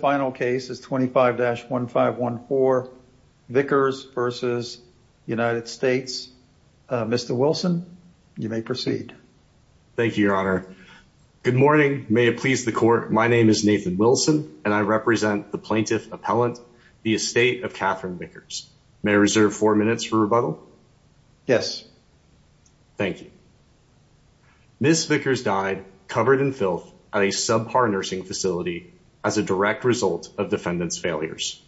Final case is 25-1514 Vickers v. United States. Mr. Wilson, you may proceed. Thank you, your honor. Good morning. May it please the court, my name is Nathan Wilson and I represent the plaintiff appellant, the estate of Katherine Vickers. May I reserve four minutes for rebuttal? Yes. Thank you. Ms. Vickers died covered in filth at a subpar nursing facility as a direct result of defendant's failures.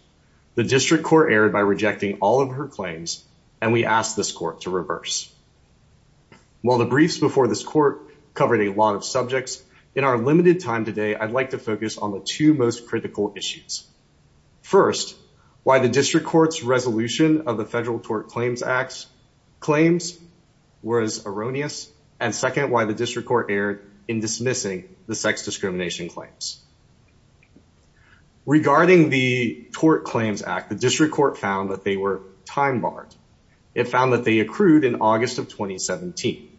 The district court erred by rejecting all of her claims and we ask this court to reverse. While the briefs before this court covered a lot of subjects, in our limited time today, I'd like to focus on the two most critical issues. First, why the district court's resolution of the Federal Tort Claims Act's claims was erroneous. And second, why the district court erred in dismissing the sex discrimination claims. Regarding the Tort Claims Act, the district court found that they were time barred. It found that they accrued in August of 2017.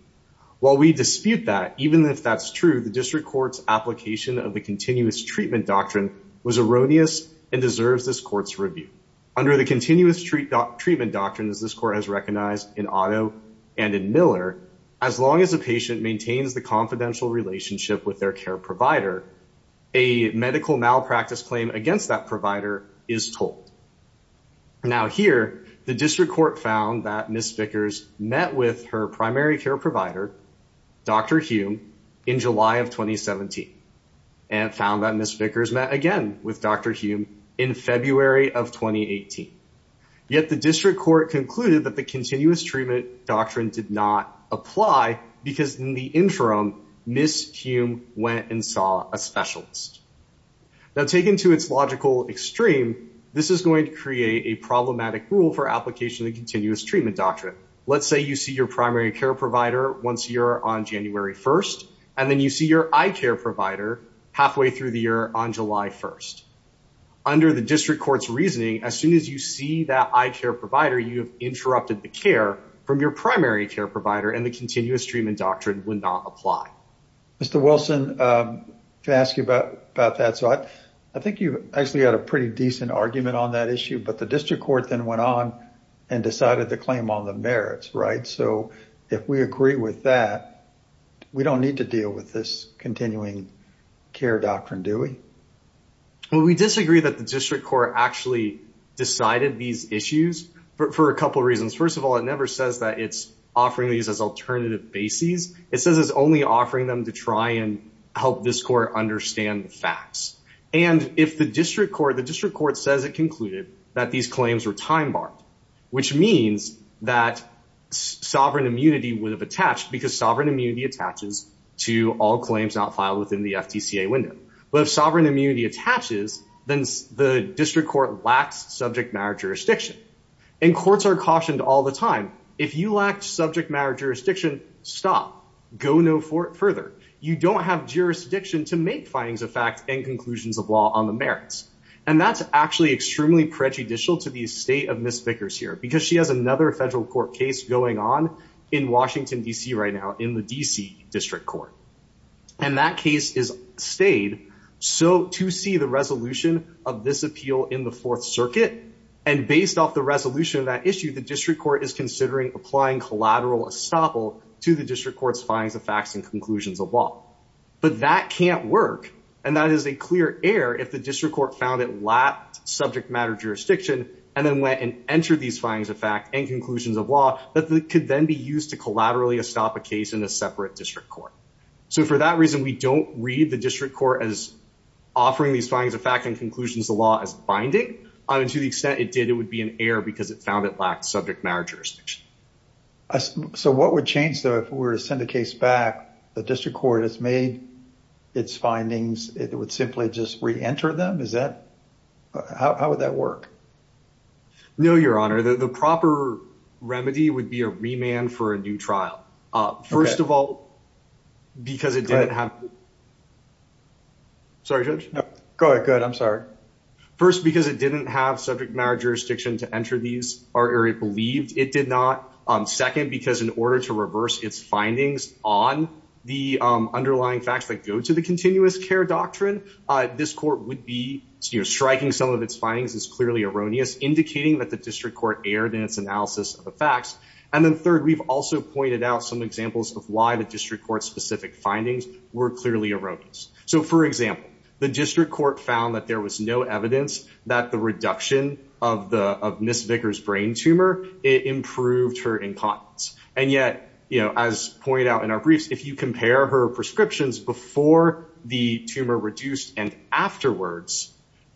While we dispute that, even if that's true, the district court's application of the continuous treatment doctrine was erroneous and deserves this court's review. Under the continuous treatment doctrine, as this court has recognized in Otto and in Miller, as long as a patient maintains the confidential relationship with their care provider, a medical malpractice claim against that provider is told. Now here, the district court found that Ms. Vickers met with her primary care provider, Dr. Hume, in July of 2017 and found that Ms. Vickers met again with Dr. Hume in February of 2018. Yet the district court concluded that the continuous treatment doctrine did not apply because in the interim, Ms. Hume went and saw a specialist. Now taken to its logical extreme, this is going to create a problematic rule for application of the continuous treatment doctrine. Let's say you see your primary care provider once a year on January 1st, and then you see your eye care provider halfway through the year on July 1st. Under the district court's reasoning, as soon as you see that eye care provider, you have interrupted the care from your primary care provider, and the continuous treatment doctrine would not apply. Mr. Wilson, can I ask you about that? I think you actually had a pretty decent argument on that issue, but the district court then went on and decided the claim on the merits, right? So if we agree with that, we don't need to deal with this continuing care doctrine, do we? Well, we disagree that the district court actually decided these issues for a couple reasons. First of all, it never says that it's offering these as alternative bases. It says it's only offering them to try and help this court understand the facts. And if the district court says it concluded that these claims were time-barred, which means that sovereign immunity would have attached because sovereign immunity attaches to all claims not filed within the FTCA window. But if sovereign immunity attaches, then the district court lacks subject matter jurisdiction. And courts are cautioned all the time, if you lack subject matter jurisdiction, stop. Go no further. You don't have jurisdiction to make findings of facts and conclusions of law on the merits. And that's actually extremely prejudicial to the state of Ms. Vickers here, because she has another federal court case going on in Washington, DC, right now, in the DC district court. And that case has stayed to see the resolution of this appeal in the Fourth Circuit. And based off the resolution of that issue, the district court is considering applying collateral estoppel to the district court's findings of facts and conclusions of law. But that can't work. And that is a clear error if the district court found it lacked subject matter jurisdiction, and then went and entered these findings of fact and conclusions of law, that could then be used to collaterally estop a case in a separate district court. So for that reason, we don't read the district court as offering these findings of fact and conclusions of law as binding. And to the extent it did, it would be an error because it found it lacked subject matter jurisdiction. So what would change, though, if we were to send a case back, the district court has made its findings, it would simply just reenter them? Is that how would that work? No, Your Honor, the proper remedy would be a remand for a new trial. First of all, because it didn't have... Sorry, Judge? No, go ahead. I'm sorry. First, because it didn't have subject matter jurisdiction to enter these, or it believed it did not. Second, because in order to reverse its findings on the underlying facts that go to the continuous care doctrine, this court would be striking some of its findings as clearly erroneous, indicating that the district court erred in its analysis of the facts. And then third, we've also pointed out some examples of why the district court specific findings were clearly erroneous. So for example, the district court found that there was no evidence that the reduction of Ms. Vickers' brain tumor, it improved her incontinence. And yet, as pointed out in our briefs, if you compare her prescriptions before the tumor reduced and afterwards,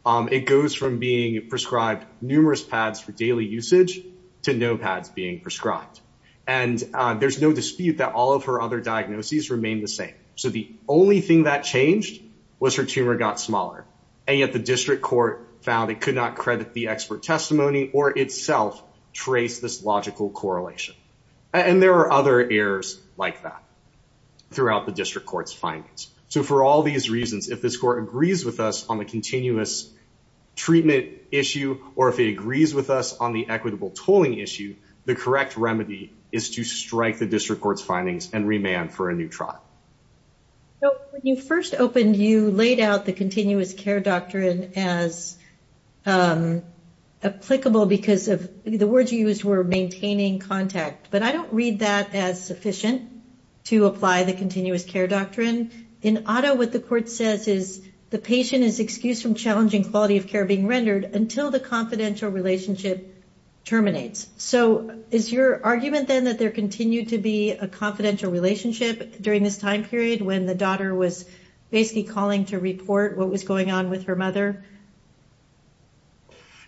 it goes from being prescribed numerous pads for daily usage to no pads being prescribed. And there's no dispute that all of her other diagnoses remain the same. So the only thing that changed was her tumor got smaller. And yet the district court found it could not credit the expert testimony or itself trace this logical correlation. And there are other errors like that throughout the district court's findings. So for all these reasons, if this court agrees with us on the continuous treatment issue, or if it agrees with us on the equitable tolling issue, the correct remedy is to strike the district court's findings and remand for a new trial. So when you first opened, you laid out the continuous care doctrine as applicable because of the words you used were maintaining contact. But I don't read that as sufficient to apply the continuous care doctrine. In Otto, what the court says is the patient is excused from challenging quality of care being rendered until the confidential relationship terminates. So is your argument then that there continued to be a confidential relationship during this time period when the daughter was basically calling to report what was going on with her mother?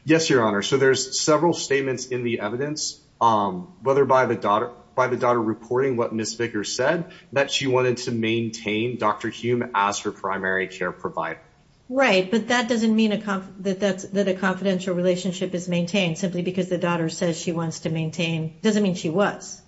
Yes, Your Honor. So there's several statements in the evidence, whether by the daughter reporting what Ms. Vickers said, that she wanted to maintain Dr. Hume as her primary care provider. Right. But that doesn't mean that a confidential relationship is maintained simply because the daughter says she wants to maintain. It doesn't mean she was.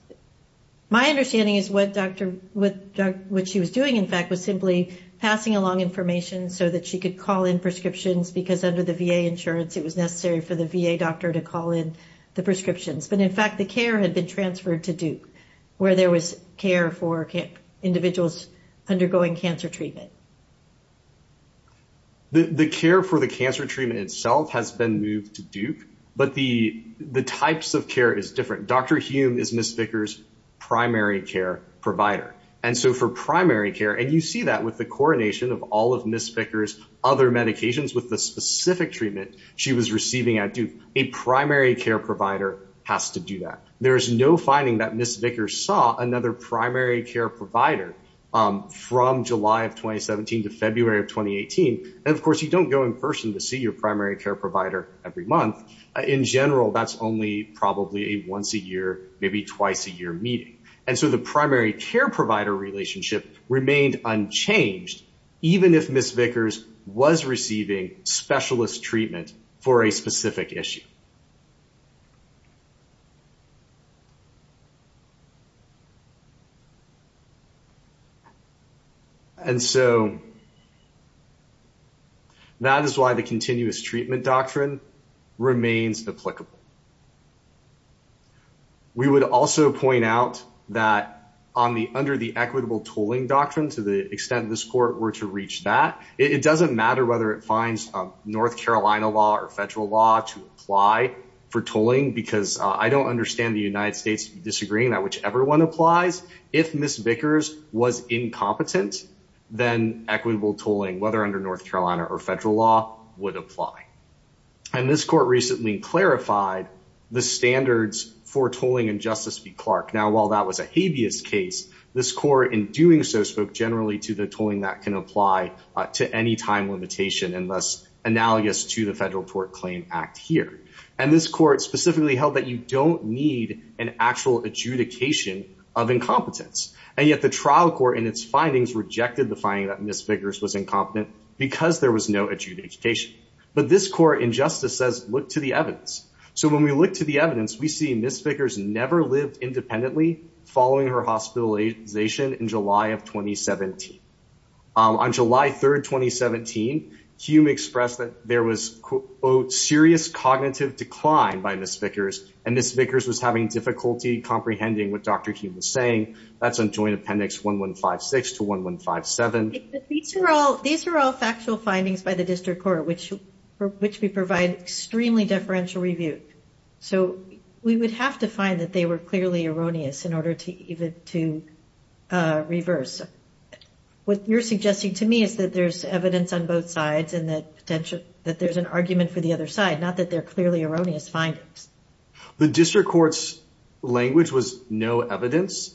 My understanding is what she was doing, in fact, was simply passing along information so that she could call in prescriptions because under the VA insurance, it was necessary for the VA doctor to call in the prescriptions. But in fact, the care had been transferred to Duke where there was care for individuals undergoing cancer treatment. The care for the cancer treatment itself has been moved to Duke, but the types of care is different. Dr. Hume is Ms. Vickers' primary care provider. And so for primary care, and you see that with the coronation of all of Ms. Vickers' other medications with the specific treatment she was receiving at Duke, a primary care provider has to do that. There is no finding that Ms. Vickers saw another primary care provider from July of 2017 to February of 2018. And of course, you don't go in person to see your primary care provider every month. In general, that's only probably a once a year, maybe twice a year meeting. And so the primary care provider relationship remained unchanged, even if Ms. Vickers was receiving specialist treatment for a specific issue. And so that is why the continuous treatment doctrine remains applicable. We would also point out that under the equitable tooling doctrine, to the extent of this court, we're to reach that. It doesn't matter whether it finds North Carolina law or federal law to apply for tolling, because I don't understand the United States disagreeing that whichever one applies, if Ms. Vickers was incompetent, then equitable tolling, whether under North Carolina or federal law, would apply. And this court recently clarified the standards for tolling in Justice v. Clark. Now, while that was a habeas case, this court in doing so spoke generally to the tolling that can apply to any time limitation and thus analogous to the Federal Tort Claim Act here. And this court specifically held that you don't need an actual adjudication of incompetence. And yet the trial court in its findings rejected the finding that Ms. Vickers was incompetent because there was no adjudication. But this court in Justice says, look to the evidence. So when we look to the evidence, we see Ms. Vickers never lived independently following her hospitalization in July of 2017. On July 3rd, 2017, Hume expressed that there was serious cognitive decline by Ms. Vickers, and Ms. Vickers was having difficulty comprehending what Dr. Hume was saying. That's on Joint Appendix 1156 to 1157. These are all factual findings by the district court, which we provide extremely deferential review. So we would have to find that they were clearly erroneous in order to even to reverse. What you're suggesting to me is that there's evidence on both sides and that potential that there's an argument for the other side, not that they're clearly erroneous findings. The district court's language was no evidence.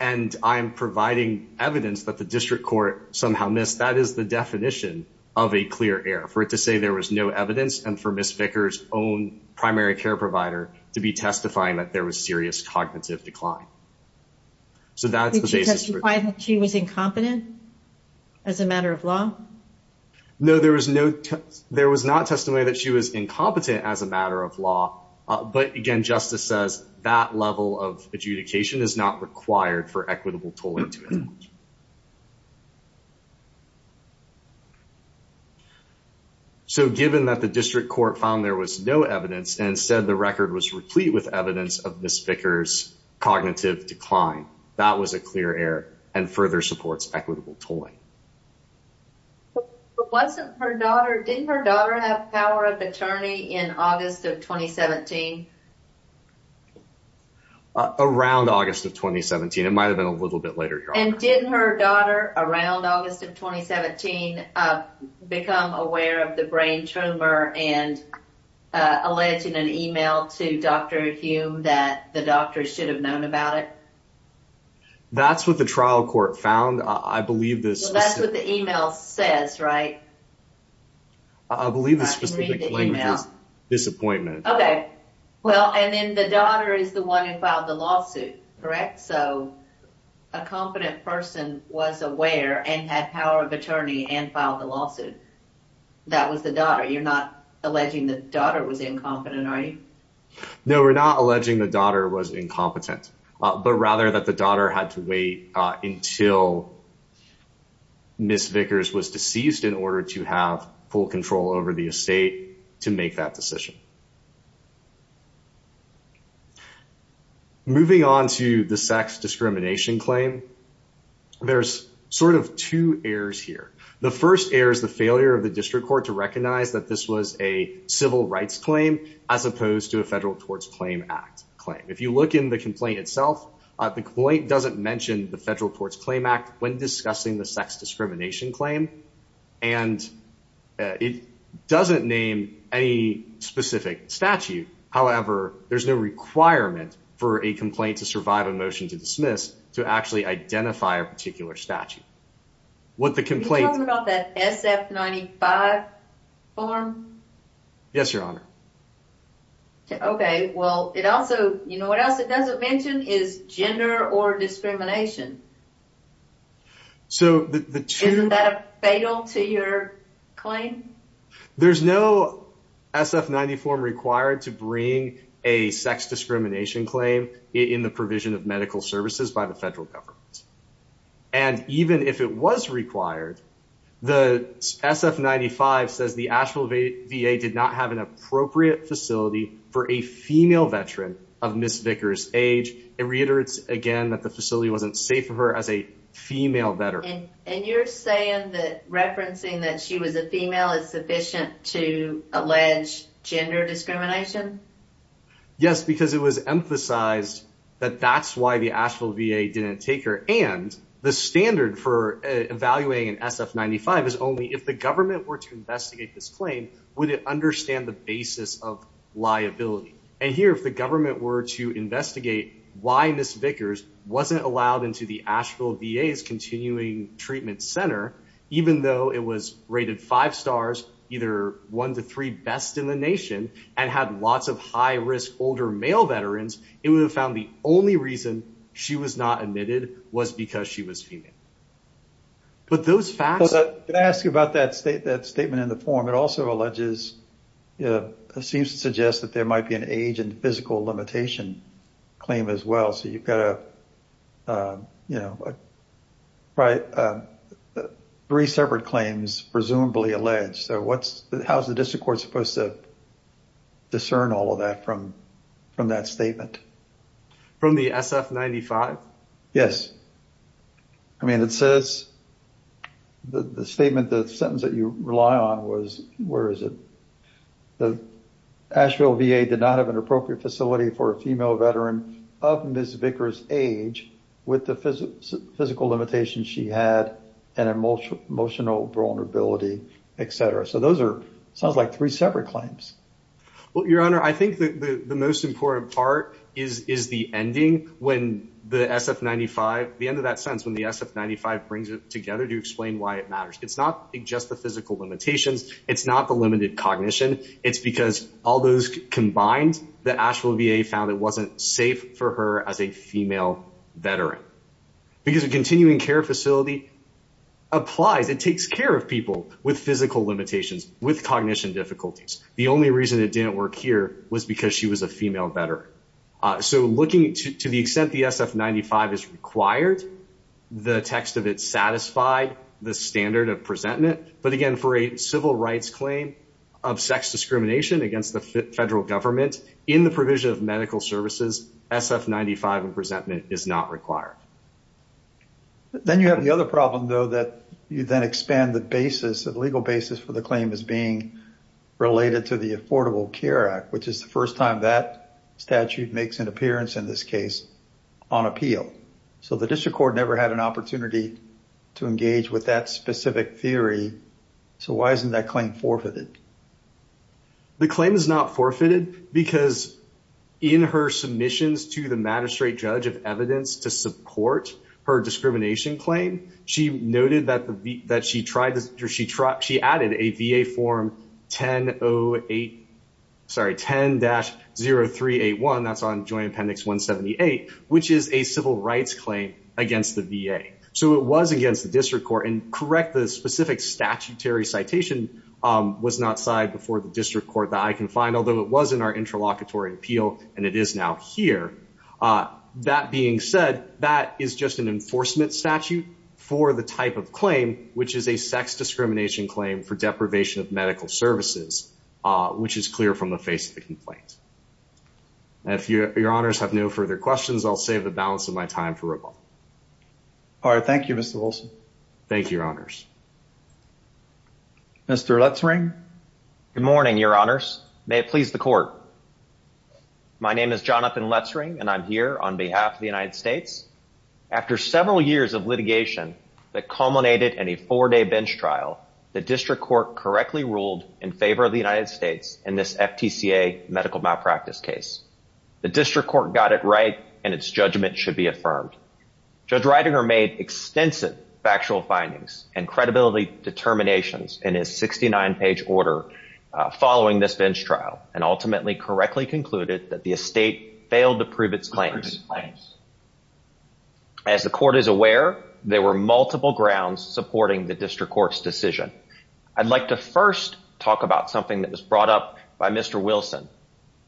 And I'm providing evidence that the district court somehow missed. That is the definition of a clear error, for it to say there was no evidence and for Ms. Vickers' own primary care provider to be testifying that there was serious cognitive decline. So that's the basis. Did she testify that she was incompetent as a matter of law? No, there was not testimony that she was incompetent as a matter of law. But again, justice says that level of adjudication is not required for equitable tolling to end. So given that the district court found there was no evidence and said the record was replete with evidence of Ms. Vickers' cognitive decline, that was a clear error and further supports equitable tolling. But wasn't her daughter, didn't her daughter have power of attorney in August of 2017? Around August of 2017. It might've been a little bit later. And didn't her daughter around August of 2017 become aware of the brain tumor and alleged in an email to Dr. Hume that the doctors should have known about it? That's what the trial court found. I believe this... That's what the email says, right? I believe this was the claim of disappointment. Okay. Well, and then the daughter is the one who filed the lawsuit, correct? So a competent person was aware and had power of attorney and filed the lawsuit. That was the daughter. You're not alleging the daughter was incompetent, are you? No, we're not alleging the daughter was incompetent, but rather that the daughter had to wait until Ms. Vickers was deceased in order to have full control over the estate to make that decision. Moving on to the sex discrimination claim, there's sort of two errors here. The first error is the failure of the district court to recognize that this was a civil rights claim as opposed to a Federal Torts Claim Act claim. If you look in the complaint itself, the complaint doesn't mention the Federal Torts Claim Act when discussing the sex discrimination claim, and it doesn't name any specific statute. However, there's no requirement for a complaint to survive a motion to dismiss to actually identify a statute. You're talking about that SF-95 form? Yes, Your Honor. Okay. Well, it also, you know, what else it doesn't mention is gender or discrimination. Isn't that fatal to your claim? There's no SF-90 form required to bring a sex discrimination claim in the provision of medical services by the Federal Government. And even if it was required, the SF-95 says the Asheville VA did not have an appropriate facility for a female veteran of Ms. Vickers' age. It reiterates again that the facility wasn't safe for her as a female veteran. And you're saying that referencing that she was a female is sufficient to allege gender discrimination? Yes, because it was emphasized that that's why the Asheville VA didn't take her. And the standard for evaluating an SF-95 is only if the government were to investigate this claim, would it understand the basis of liability? And here, if the government were to investigate why Ms. Vickers wasn't allowed into the Asheville VA's Continuing Treatment Center, even though it was rated five stars, either one to three best in the only reason she was not admitted was because she was female. But those facts... Could I ask you about that statement in the form? It also alleges, seems to suggest that there might be an age and physical limitation claim as well. So you've got three separate claims presumably alleged. So how's the district court supposed to discern all of that from that statement? From the SF-95? Yes. I mean, it says the statement, the sentence that you rely on was, where is it? The Asheville VA did not have an appropriate facility for a female veteran of Ms. Vickers' age with the physical limitations she had and emotional vulnerability, et cetera. So those are sounds like three separate claims. Well, Your Honor, I think the most important part is the ending when the SF-95, the end of that sentence, when the SF-95 brings it together to explain why it matters. It's not just the physical limitations. It's not the limited cognition. It's because all those combined, the Asheville VA found it wasn't safe for her as a female veteran. Because a continuing care facility applies, it takes care of people with physical limitations, with cognition difficulties. The only reason it didn't work here was because she was a female veteran. So looking to the extent the SF-95 is required, the text of it satisfied the standard of presentment. But again, for a civil rights claim of sex discrimination against the federal government, in the provision of medical services, SF-95 and presentment is not required. Then you have the other problem, though, that you then expand the basis, the legal basis for the claim as being related to the Affordable Care Act, which is the first time that statute makes an appearance in this case on appeal. So the district court never had an opportunity to engage with that specific theory. So why isn't that claim forfeited? The claim is not forfeited because in her submissions to the magistrate judge of evidence to support her discrimination claim, she added a VA form 10-0381, that's on joint appendix 178, which is a civil rights claim against the VA. So it was against the district court. And correct, the specific statutory citation was not signed before the district court that I can find, although it was in our interlocutory appeal and it is now here. That being said, that is just an enforcement statute for the type of claim, which is a sex discrimination claim for deprivation of medical services, which is clear from the face of the complaint. And if your honors have no further questions, I'll save the balance of my time for rebuttal. All right. Thank you, Mr. Olson. Thank you, your honors. Mr. Letzring. Good morning, your honors. May it please the court. My name is Jonathan Letzring and I'm here on behalf of the United States. After several years of litigation that culminated in a four-day bench trial, the district court correctly ruled in favor of the United States in this FTCA medical malpractice case. The district court got it right and its judgment should be affirmed. Judge Ridinger made extensive factual findings and credibility determinations in his 69-page order following this bench trial and ultimately correctly concluded that the estate failed to prove its claims. As the court is aware, there were multiple grounds supporting the district court's decision. I'd like to first talk about something that was brought up by Mr. Wilson.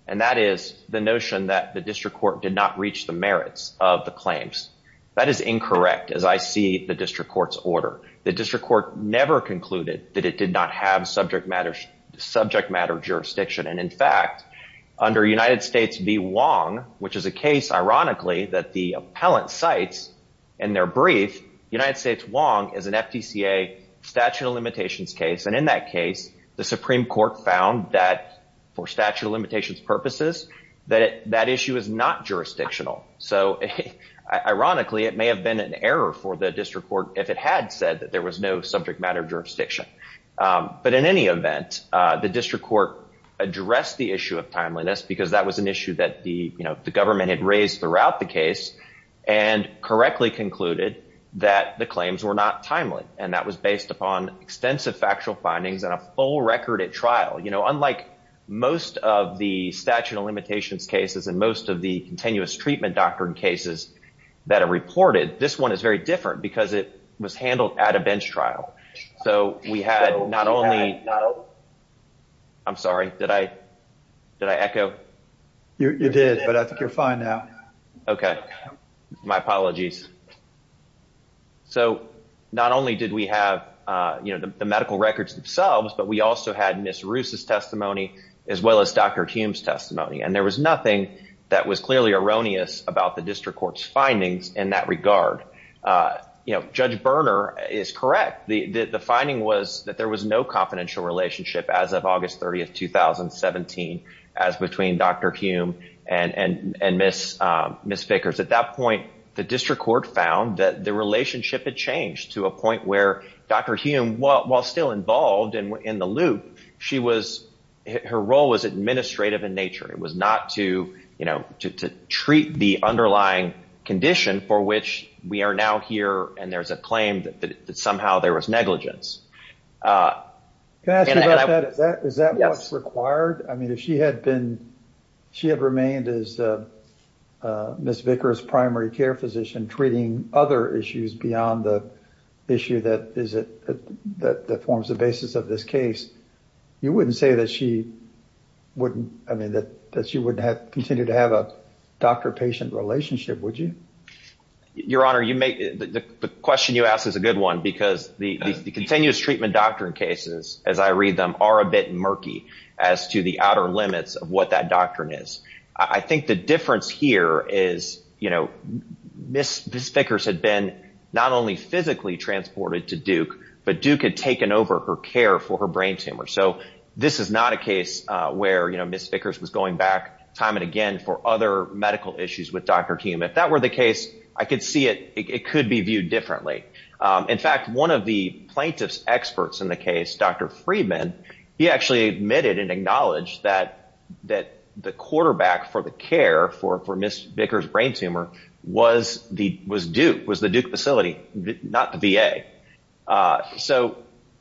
And that is the notion that the district court did not reach the merits of the claims. That is incorrect as I see the district court's order. The district court never concluded that it did not have subject matter jurisdiction. And in fact, under United States v. Wong, which is a case, ironically, that the appellant cites in their brief, United States Wong is an FTCA statute of limitations case. And in that case, the Supreme Court found that for statute of limitations purposes, that issue is not jurisdictional. So ironically, it may have been an error for the district court if it had said that there was no subject matter jurisdiction. But in any event, the district court addressed the issue of timeliness because that was an issue that the government had raised throughout the case and correctly concluded that the claims were not timely. And that was based upon extensive factual findings and a full record at trial. Unlike most of the statute of limitations cases and most of the continuous treatment doctrine cases that are reported, this one is very different because it was handled at a bench trial. I'm sorry. Did I echo? You did, but I think you're fine now. Okay. My apologies. So not only did we have the medical records themselves, but we also had Ms. Roos' testimony as well as Dr. Hume's testimony. And there was nothing that was clearly erroneous about the district court's findings in that regard. Judge Berner is correct. The finding was that there was no confidential relationship as of August 30th, 2017 as between Dr. Hume and Ms. Vickers. At that point, the district court found that the relationship had changed to a point where Dr. Hume, while still involved in the loop, her role was administrative in nature. It was not to treat the underlying condition for which we are now here and there's a claim that somehow there was negligence. Can I ask you about that? Is that what's required? I mean, if she had remained as a Ms. Vickers primary care physician treating other issues beyond the issue that forms the basis of this case, you wouldn't say that she wouldn't continue to have a doctor-patient relationship, would you? Your Honor, the question you ask is a good one because the continuous treatment doctrine cases, as I read them, are a bit murky as to the outer limits of what that is. I think the difference here is Ms. Vickers had been not only physically transported to Duke, but Duke had taken over her care for her brain tumor. This is not a case where Ms. Vickers was going back time and again for other medical issues with Dr. Hume. If that were the case, I could see it could be viewed differently. In fact, one of the plaintiff's experts in the case, Dr. Friedman, he actually admitted and acknowledged that the quarterback for the care for Ms. Vickers' brain tumor was Duke, was the Duke facility, not the VA.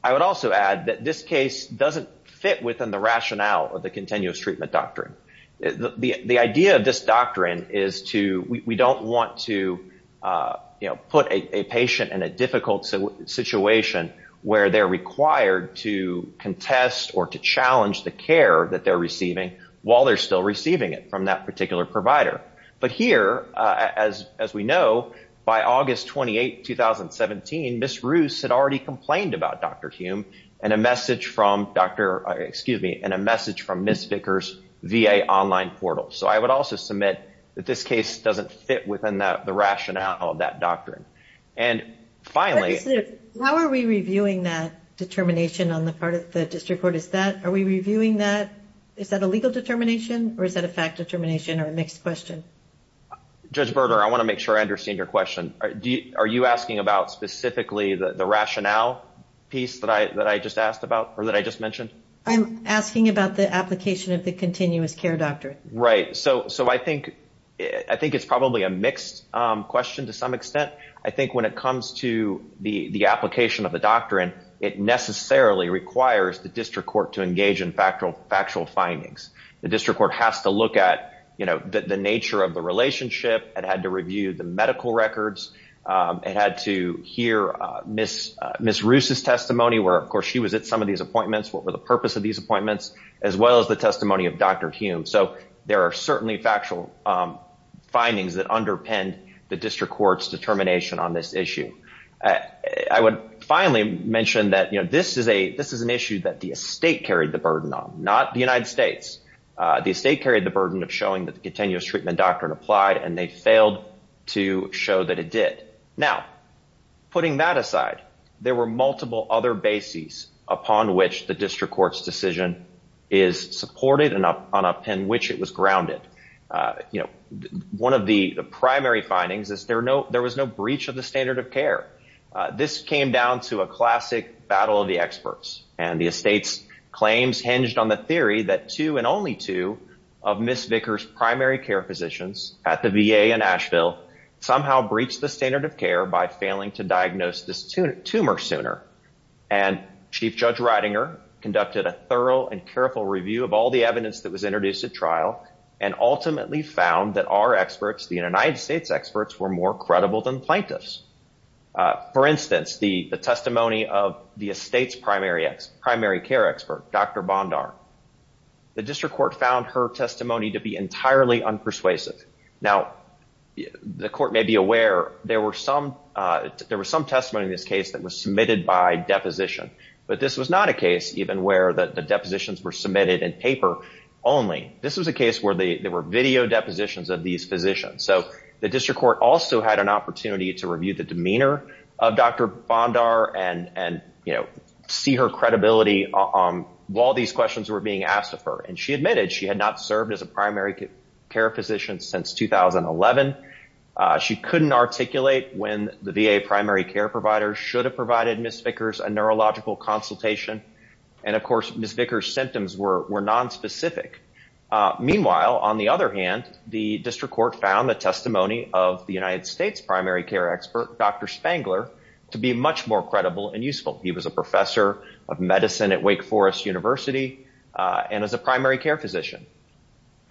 I would also add that this case doesn't fit within the rationale of the continuous treatment doctrine. The idea of this doctrine is we don't want to put a patient in a difficult situation where they're required to contest or to challenge the care that they're receiving while they're still receiving it from that particular provider. Here, as we know, by August 28, 2017, Ms. Roos had already complained about Dr. Hume and a message from Ms. Vickers' VA online portal. I would also submit that this case doesn't fit within the rationale of that doctrine. And finally- Judge Sniff, how are we reviewing that determination on the part of the district court? Is that a legal determination or is that a fact determination or a mixed question? Judge Berger, I want to make sure I understand your question. Are you asking about specifically the rationale piece that I just asked about or that I just mentioned? I'm asking about the application of the continuous care doctrine. Right. I think it's probably a mixed question to some extent. I think when it comes to the application of the doctrine, it necessarily requires the district court to engage in factual findings. The district court has to look at the nature of the relationship. It had to review the medical records. It had to hear Ms. Roos' testimony where, of course, she was at some of these appointments, what were the purpose of these appointments, as well as the testimony of Dr. Hume. So there are certainly factual findings that underpin the district court's determination on this issue. I would finally mention that this is an issue that the estate carried the burden on, not the United States. The estate carried the burden of showing that the continuous treatment doctrine applied, and they failed to show that it did. Now, putting that aside, there were multiple other bases upon which the district court's is supported and upon which it was grounded. One of the primary findings is there was no breach of the standard of care. This came down to a classic battle of the experts, and the estate's claims hinged on the theory that two and only two of Ms. Vickers' primary care physicians at the VA in Asheville somehow breached the standard of care by failing to tumor sooner. Chief Judge Reidinger conducted a thorough and careful review of all the evidence that was introduced at trial and ultimately found that our experts, the United States experts, were more credible than the plaintiffs. For instance, the testimony of the estate's primary care expert, Dr. Bondar, the district court found her testimony to be entirely this case that was submitted by deposition. But this was not a case even where the depositions were submitted in paper only. This was a case where there were video depositions of these physicians. So the district court also had an opportunity to review the demeanor of Dr. Bondar and see her credibility while these questions were being asked of her. And she admitted she had not served as a primary care physician since 2011. She couldn't articulate when the VA primary care providers should have provided Ms. Vickers a neurological consultation. And of course, Ms. Vickers' symptoms were nonspecific. Meanwhile, on the other hand, the district court found the testimony of the United States primary care expert, Dr. Spangler, to be much more credible and useful. He was a professor of medicine at Wake Forest University and is a primary care physician.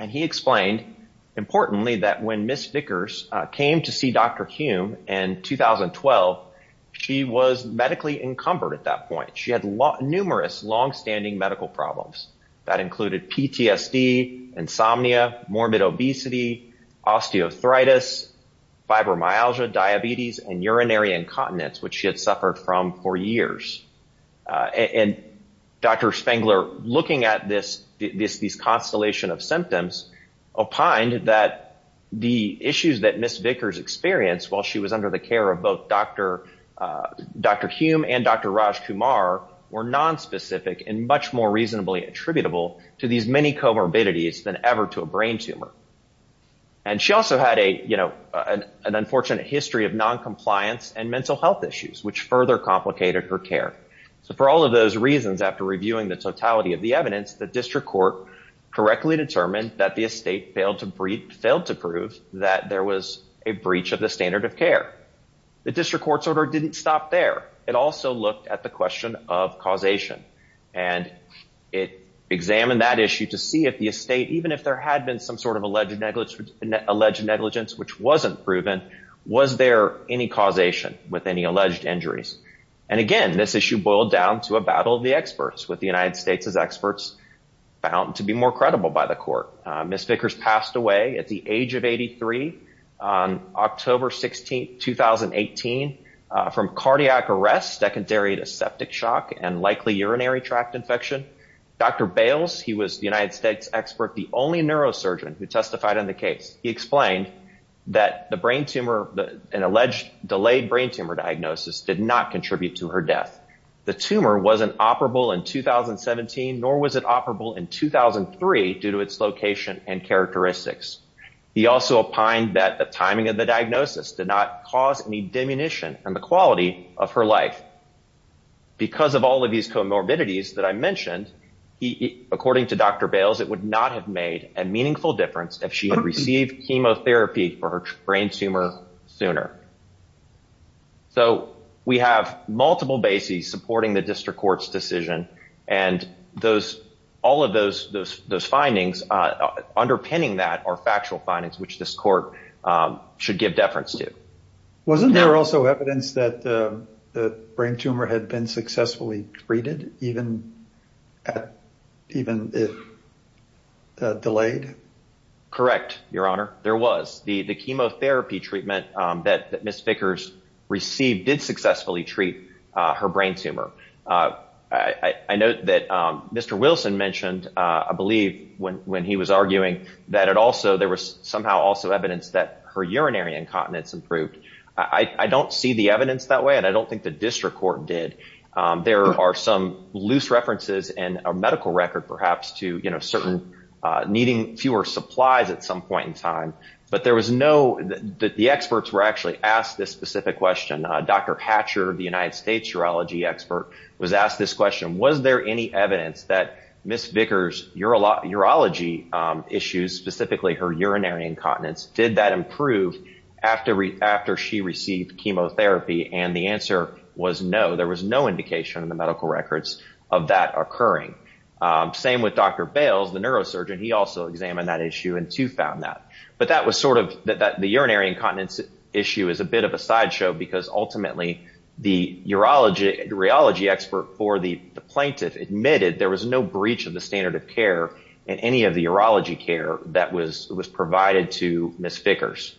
And he explained, importantly, that when Ms. Vickers came to see Dr. Hume in 2012, she was medically encumbered at that point. She had numerous longstanding medical problems that included PTSD, insomnia, morbid obesity, osteoarthritis, fibromyalgia, diabetes, and urinary incontinence, which she had suffered from for years. And Dr. Spangler, looking at these constellation of symptoms, opined that the issues that Ms. Vickers experienced while she was under the care of both Dr. Hume and Dr. Rajkumar were nonspecific and much more reasonably attributable to these many comorbidities than ever to a brain tumor. And she also had an unfortunate history of noncompliance and mental health issues, which further complicated her care. So for all of those reasons, after reviewing the totality of the evidence, the district court correctly determined that the estate failed to prove that there was a breach of the standard of care. The district court's order didn't stop there. It also looked at the question of causation. And it examined that issue to see if the estate, even if there had been some sort of alleged negligence, which wasn't proven, was there any causation with any alleged injuries? And again, this issue boiled down to a battle of experts, with the United States' experts found to be more credible by the court. Ms. Vickers passed away at the age of 83 on October 16, 2018, from cardiac arrest, secondary to septic shock, and likely urinary tract infection. Dr. Bales, he was the United States expert, the only neurosurgeon who testified on the case. He explained that the brain tumor, an alleged delayed brain tumor diagnosis, did not contribute to her death. The tumor was an operable in 2017, nor was it operable in 2003, due to its location and characteristics. He also opined that the timing of the diagnosis did not cause any diminution in the quality of her life. Because of all of these comorbidities that I mentioned, according to Dr. Bales, it would not have made a meaningful difference if she had received chemotherapy for her brain tumor sooner. So, we have multiple bases supporting the district court's decision, and all of those findings, underpinning that, are factual findings, which this court should give deference to. Wasn't there also evidence that the brain tumor had been successfully treated, even if delayed? Correct, Your Honor. There was. The chemotherapy treatment that Ms. Vickers received did successfully treat her brain tumor. I note that Mr. Wilson mentioned, I believe, when he was arguing that there was somehow also evidence that her urinary incontinence improved. I don't see the evidence that way, and I don't think the district court did. There are some loose references in a medical record, perhaps, to needing fewer supplies at some point in time, but the experts were actually asked this specific question. Dr. Hatcher, the United States urology expert, was asked this question. Was there any evidence that Ms. Vickers' urology issues, specifically her urinary incontinence, did that improve after she received chemotherapy? The answer was no. There was no indication in the medical records of that occurring. Same with Dr. Bales, the neurosurgeon. He also examined that issue and, too, found that. The urinary incontinence issue is a bit of a sideshow because, ultimately, the urology expert for the plaintiff admitted there was no breach of the standard of care in any of the urology care that was provided to Ms. Vickers.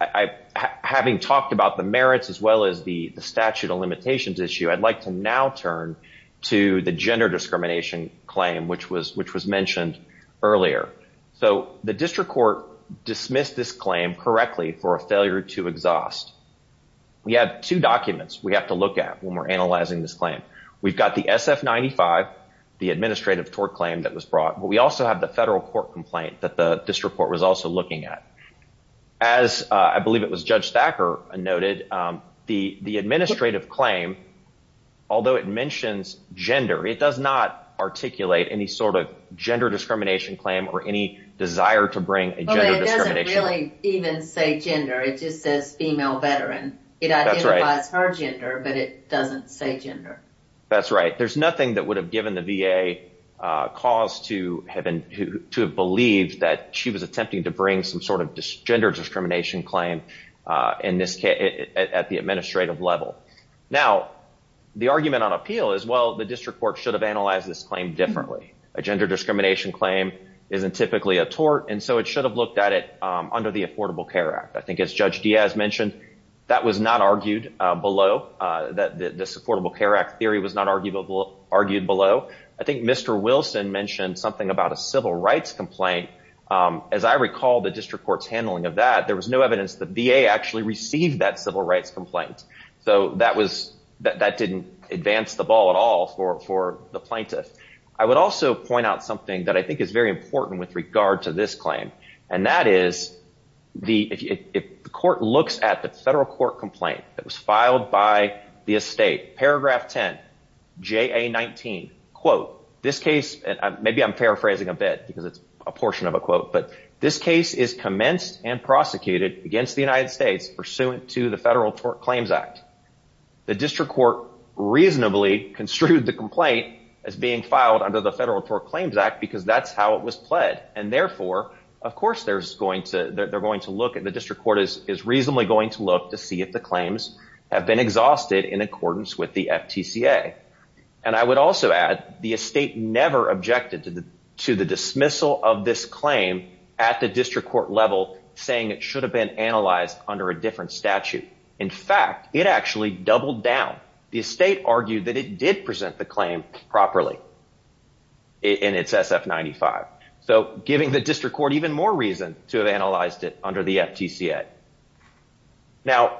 Having talked about the merits as well as the statute of limitations issue, I'd like to now turn to the gender discrimination claim, which was mentioned earlier. The district court dismissed this claim correctly for a failure to exhaust. We have two documents we have to look at when we're analyzing this claim. We've got the SF-95, the administrative tort claim that was brought, but we also have the federal court complaint that the district court was also looking at. As I believe it was Judge Thacker noted, the administrative claim, although it mentions gender, it does not articulate any sort of gender discrimination claim or any desire to bring a gender discrimination claim. It doesn't really even say gender. It just says female veteran. It identifies her gender, but it doesn't say gender. That's right. There's the VA cause to have believed that she was attempting to bring some sort of gender discrimination claim at the administrative level. Now, the argument on appeal is, well, the district court should have analyzed this claim differently. A gender discrimination claim isn't typically a tort, and so it should have looked at it under the Affordable Care Act. I think as Judge Diaz mentioned, that was not argued below. This Affordable Care Act theory was not argued below. I think Mr. Wilson mentioned something about a civil rights complaint. As I recall the district court's handling of that, there was no evidence the VA actually received that civil rights complaint. That didn't advance the ball at all for the plaintiff. I would also point out something that I think is very important with regard to this claim, and that is if the court looks at the federal court complaint that was filed by the estate, paragraph 10, JA-19, quote, this case, and maybe I'm paraphrasing a bit because it's a portion of a quote, but this case is commenced and prosecuted against the United States pursuant to the Federal Tort Claims Act. The district court reasonably construed the complaint as being filed under the Federal Tort Claims Act because that's how it was pled, and therefore, of course, they're going to look at, the district court is reasonably going to look to see if the claims have been exhausted in accordance with the FTCA. I would also add the estate never objected to the dismissal of this claim at the district court level saying it should have been analyzed under a different statute. In fact, it actually doubled down. The estate argued that it did present the claim properly in its SF-95, so giving the district court even more reason to have analyzed it under the FTCA. Now,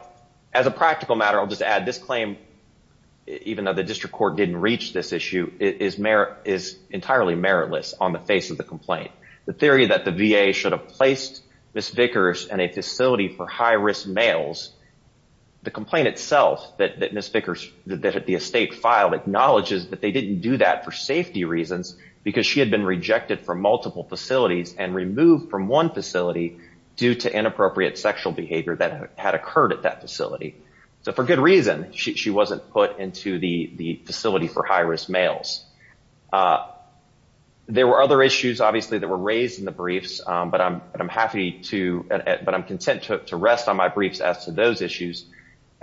as a practical matter, I'll just add this claim, even though the district court didn't reach this issue, is entirely meritless on the face of the complaint. The theory that the VA should have placed Ms. Vickers in a facility for high-risk males, the complaint itself that Ms. Vickers, that the estate filed, acknowledges that they didn't do that for safety reasons because she had been rejected from multiple facilities and removed from one facility due to inappropriate sexual behavior that had occurred at that facility. So, for good reason, she wasn't put into the facility for high-risk males. There were other issues, obviously, that were raised in the briefs, but I'm happy to, but I'm content to rest on my briefs as to those issues,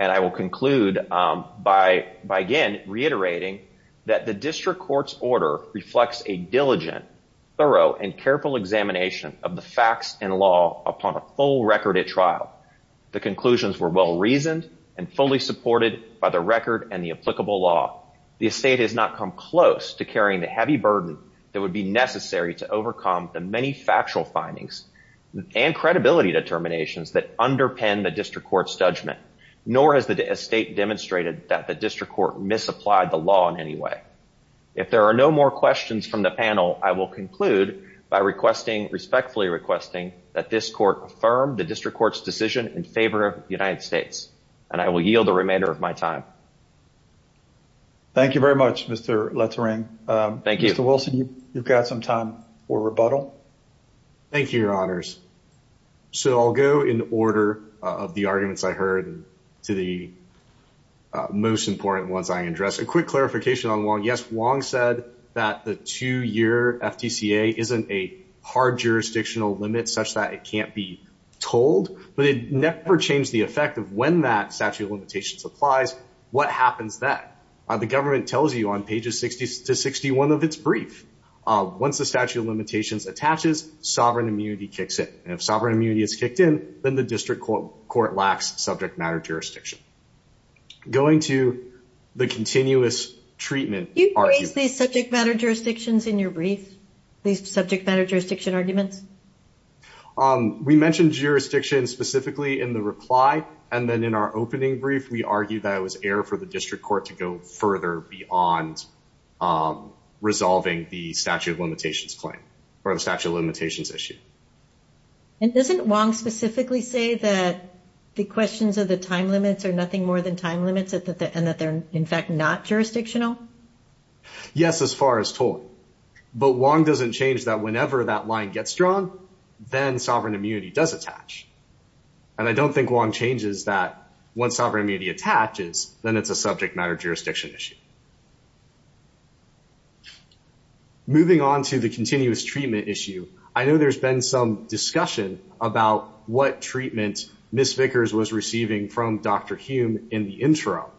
and I will conclude by, again, reiterating that the district court's order reflects a diligent, thorough, and careful examination of the facts and law upon a full record at trial. The conclusions were well-reasoned and fully supported by the record and the applicable law. The estate has not come close to carrying the heavy burden that would be necessary to overcome the many factual findings and credibility determinations that underpin the district court's judgment, nor has the estate demonstrated that the district court misapplied the law in any way. If there are no more questions from the panel, I will conclude by respectfully requesting that this court affirm the district court's decision in favor of the United States, and I will yield the remainder of my time. Thank you very much, Mr. Letourneau. Thank you. Mr. Wilson, you've got some time for rebuttal. Thank you, Your Honors. So I'll go in order of the arguments I heard to the most important ones I addressed. A quick clarification on Wong. Yes, Wong said that the two-year FTCA isn't a hard jurisdictional limit such that it can't be told, but it never changed the effect of when that statute of limitations applies, what happens then. The government tells you on pages 60 to 61 of its brief, once the statute of limitations attaches, sovereign immunity kicks in. And if sovereign immunity is kicked in, then the district court lacks subject matter jurisdiction. Going to the continuous treatment argument. Do you phrase these subject matter jurisdictions in your brief, these subject matter jurisdiction arguments? We mentioned jurisdiction specifically in the reply, and then in our opening brief, we argued that it was air for the district court to go further beyond resolving the statute of limitations claim or the statute of limitations issue. And doesn't Wong specifically say that the questions of the time limits are nothing more than time limits and that they're in fact not jurisdictional? Yes, as far as totally. But Wong doesn't change that whenever that line gets drawn, then sovereign immunity does attach. And I don't think Wong changes that once sovereign immunity attaches, then it's a subject matter jurisdiction issue. Moving on to the continuous treatment issue, I know there's been some discussion about what treatment Ms. Vickers was receiving from Dr. Hume in the intro.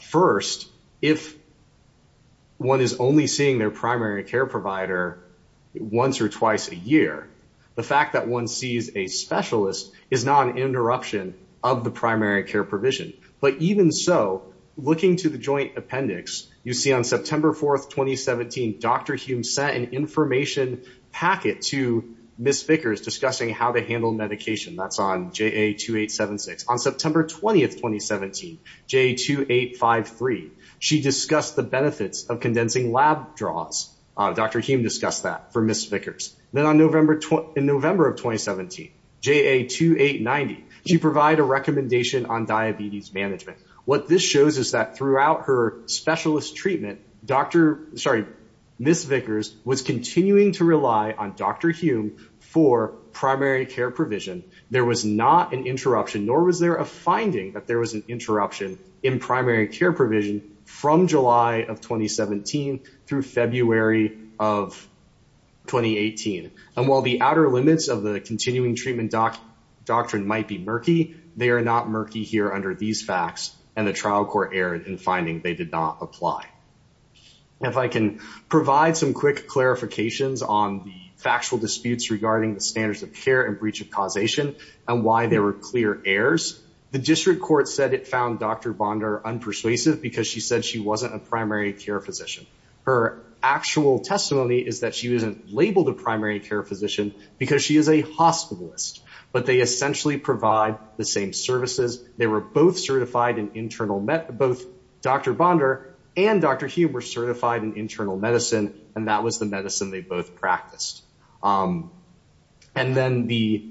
First, if one is only seeing their primary care provider once or twice a year, the fact that one sees a specialist is not an interruption of the primary care provision. But even so, looking to the joint appendix, you see on September 4th, 2017, Dr. Hume sent an information packet to Ms. Vickers discussing how to handle medication. That's on JA2876. On September 20th, 2017, JA2853, she discussed the benefits of condensing lab draws. Dr. Hume discussed that for Ms. Vickers. Then in November of 2017, JA2890, she provided a recommendation on diabetes management. What this shows is that throughout her specialist treatment, Ms. Vickers was continuing to rely on Dr. Hume for primary care provision. There was not an interruption, nor was there a finding that there was an interruption in primary care provision from July of 2017 through February of 2018. While the outer limits of the continuing treatment doctrine might be murky, they are not murky here under these facts, and the trial court erred in finding they did not apply. If I can provide some quick clarifications on the factual disputes regarding the standards of care and breach of causation and why there were clear errors, the district court said it found Dr. Bondar unpersuasive because she said she wasn't a primary care physician. Her actual testimony is that she wasn't labeled a primary care physician because she is a hospitalist, but they essentially provide the same services. They were both certified in internal, both Dr. Bondar and Dr. Hume were certified in internal medicine, and that was the medicine they both practiced. And then the,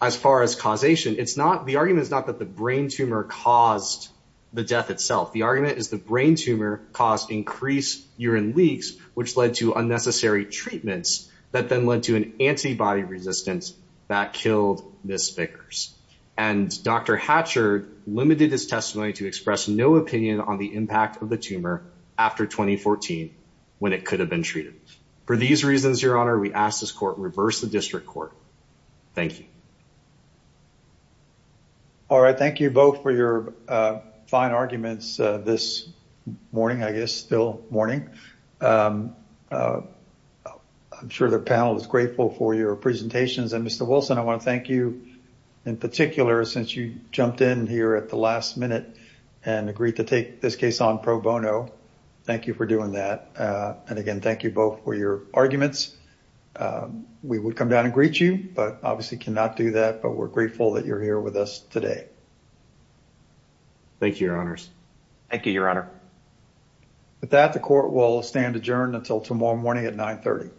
as far as causation, it's not, the argument is not that the brain tumor caused the death itself. The argument is the brain tumor caused increased urine leaks, which led to unnecessary treatments that then led to an antibody resistance that killed Ms. Vickers. And Dr. Hatcher limited his testimony to express no opinion on the impact of the tumor after 2014 when it could have been treated. For these reasons, Your Honor, we ask this court reverse the district court. Thank you. All right. Thank you both for your fine arguments this morning, I guess, still morning. I'm sure the panel is grateful for your presentations. And Mr. Wilson, I want to thank you in particular, since you jumped in here at the last minute and agreed to take this case on pro bono. Thank you for doing that. And again, thank you both for your arguments. We would come down and greet you, but obviously cannot do that. But we're grateful that you're here with us today. Thank you, Your Honors. Thank you, Your Honor. With that, the court will stand adjourned until tomorrow morning at 9 30.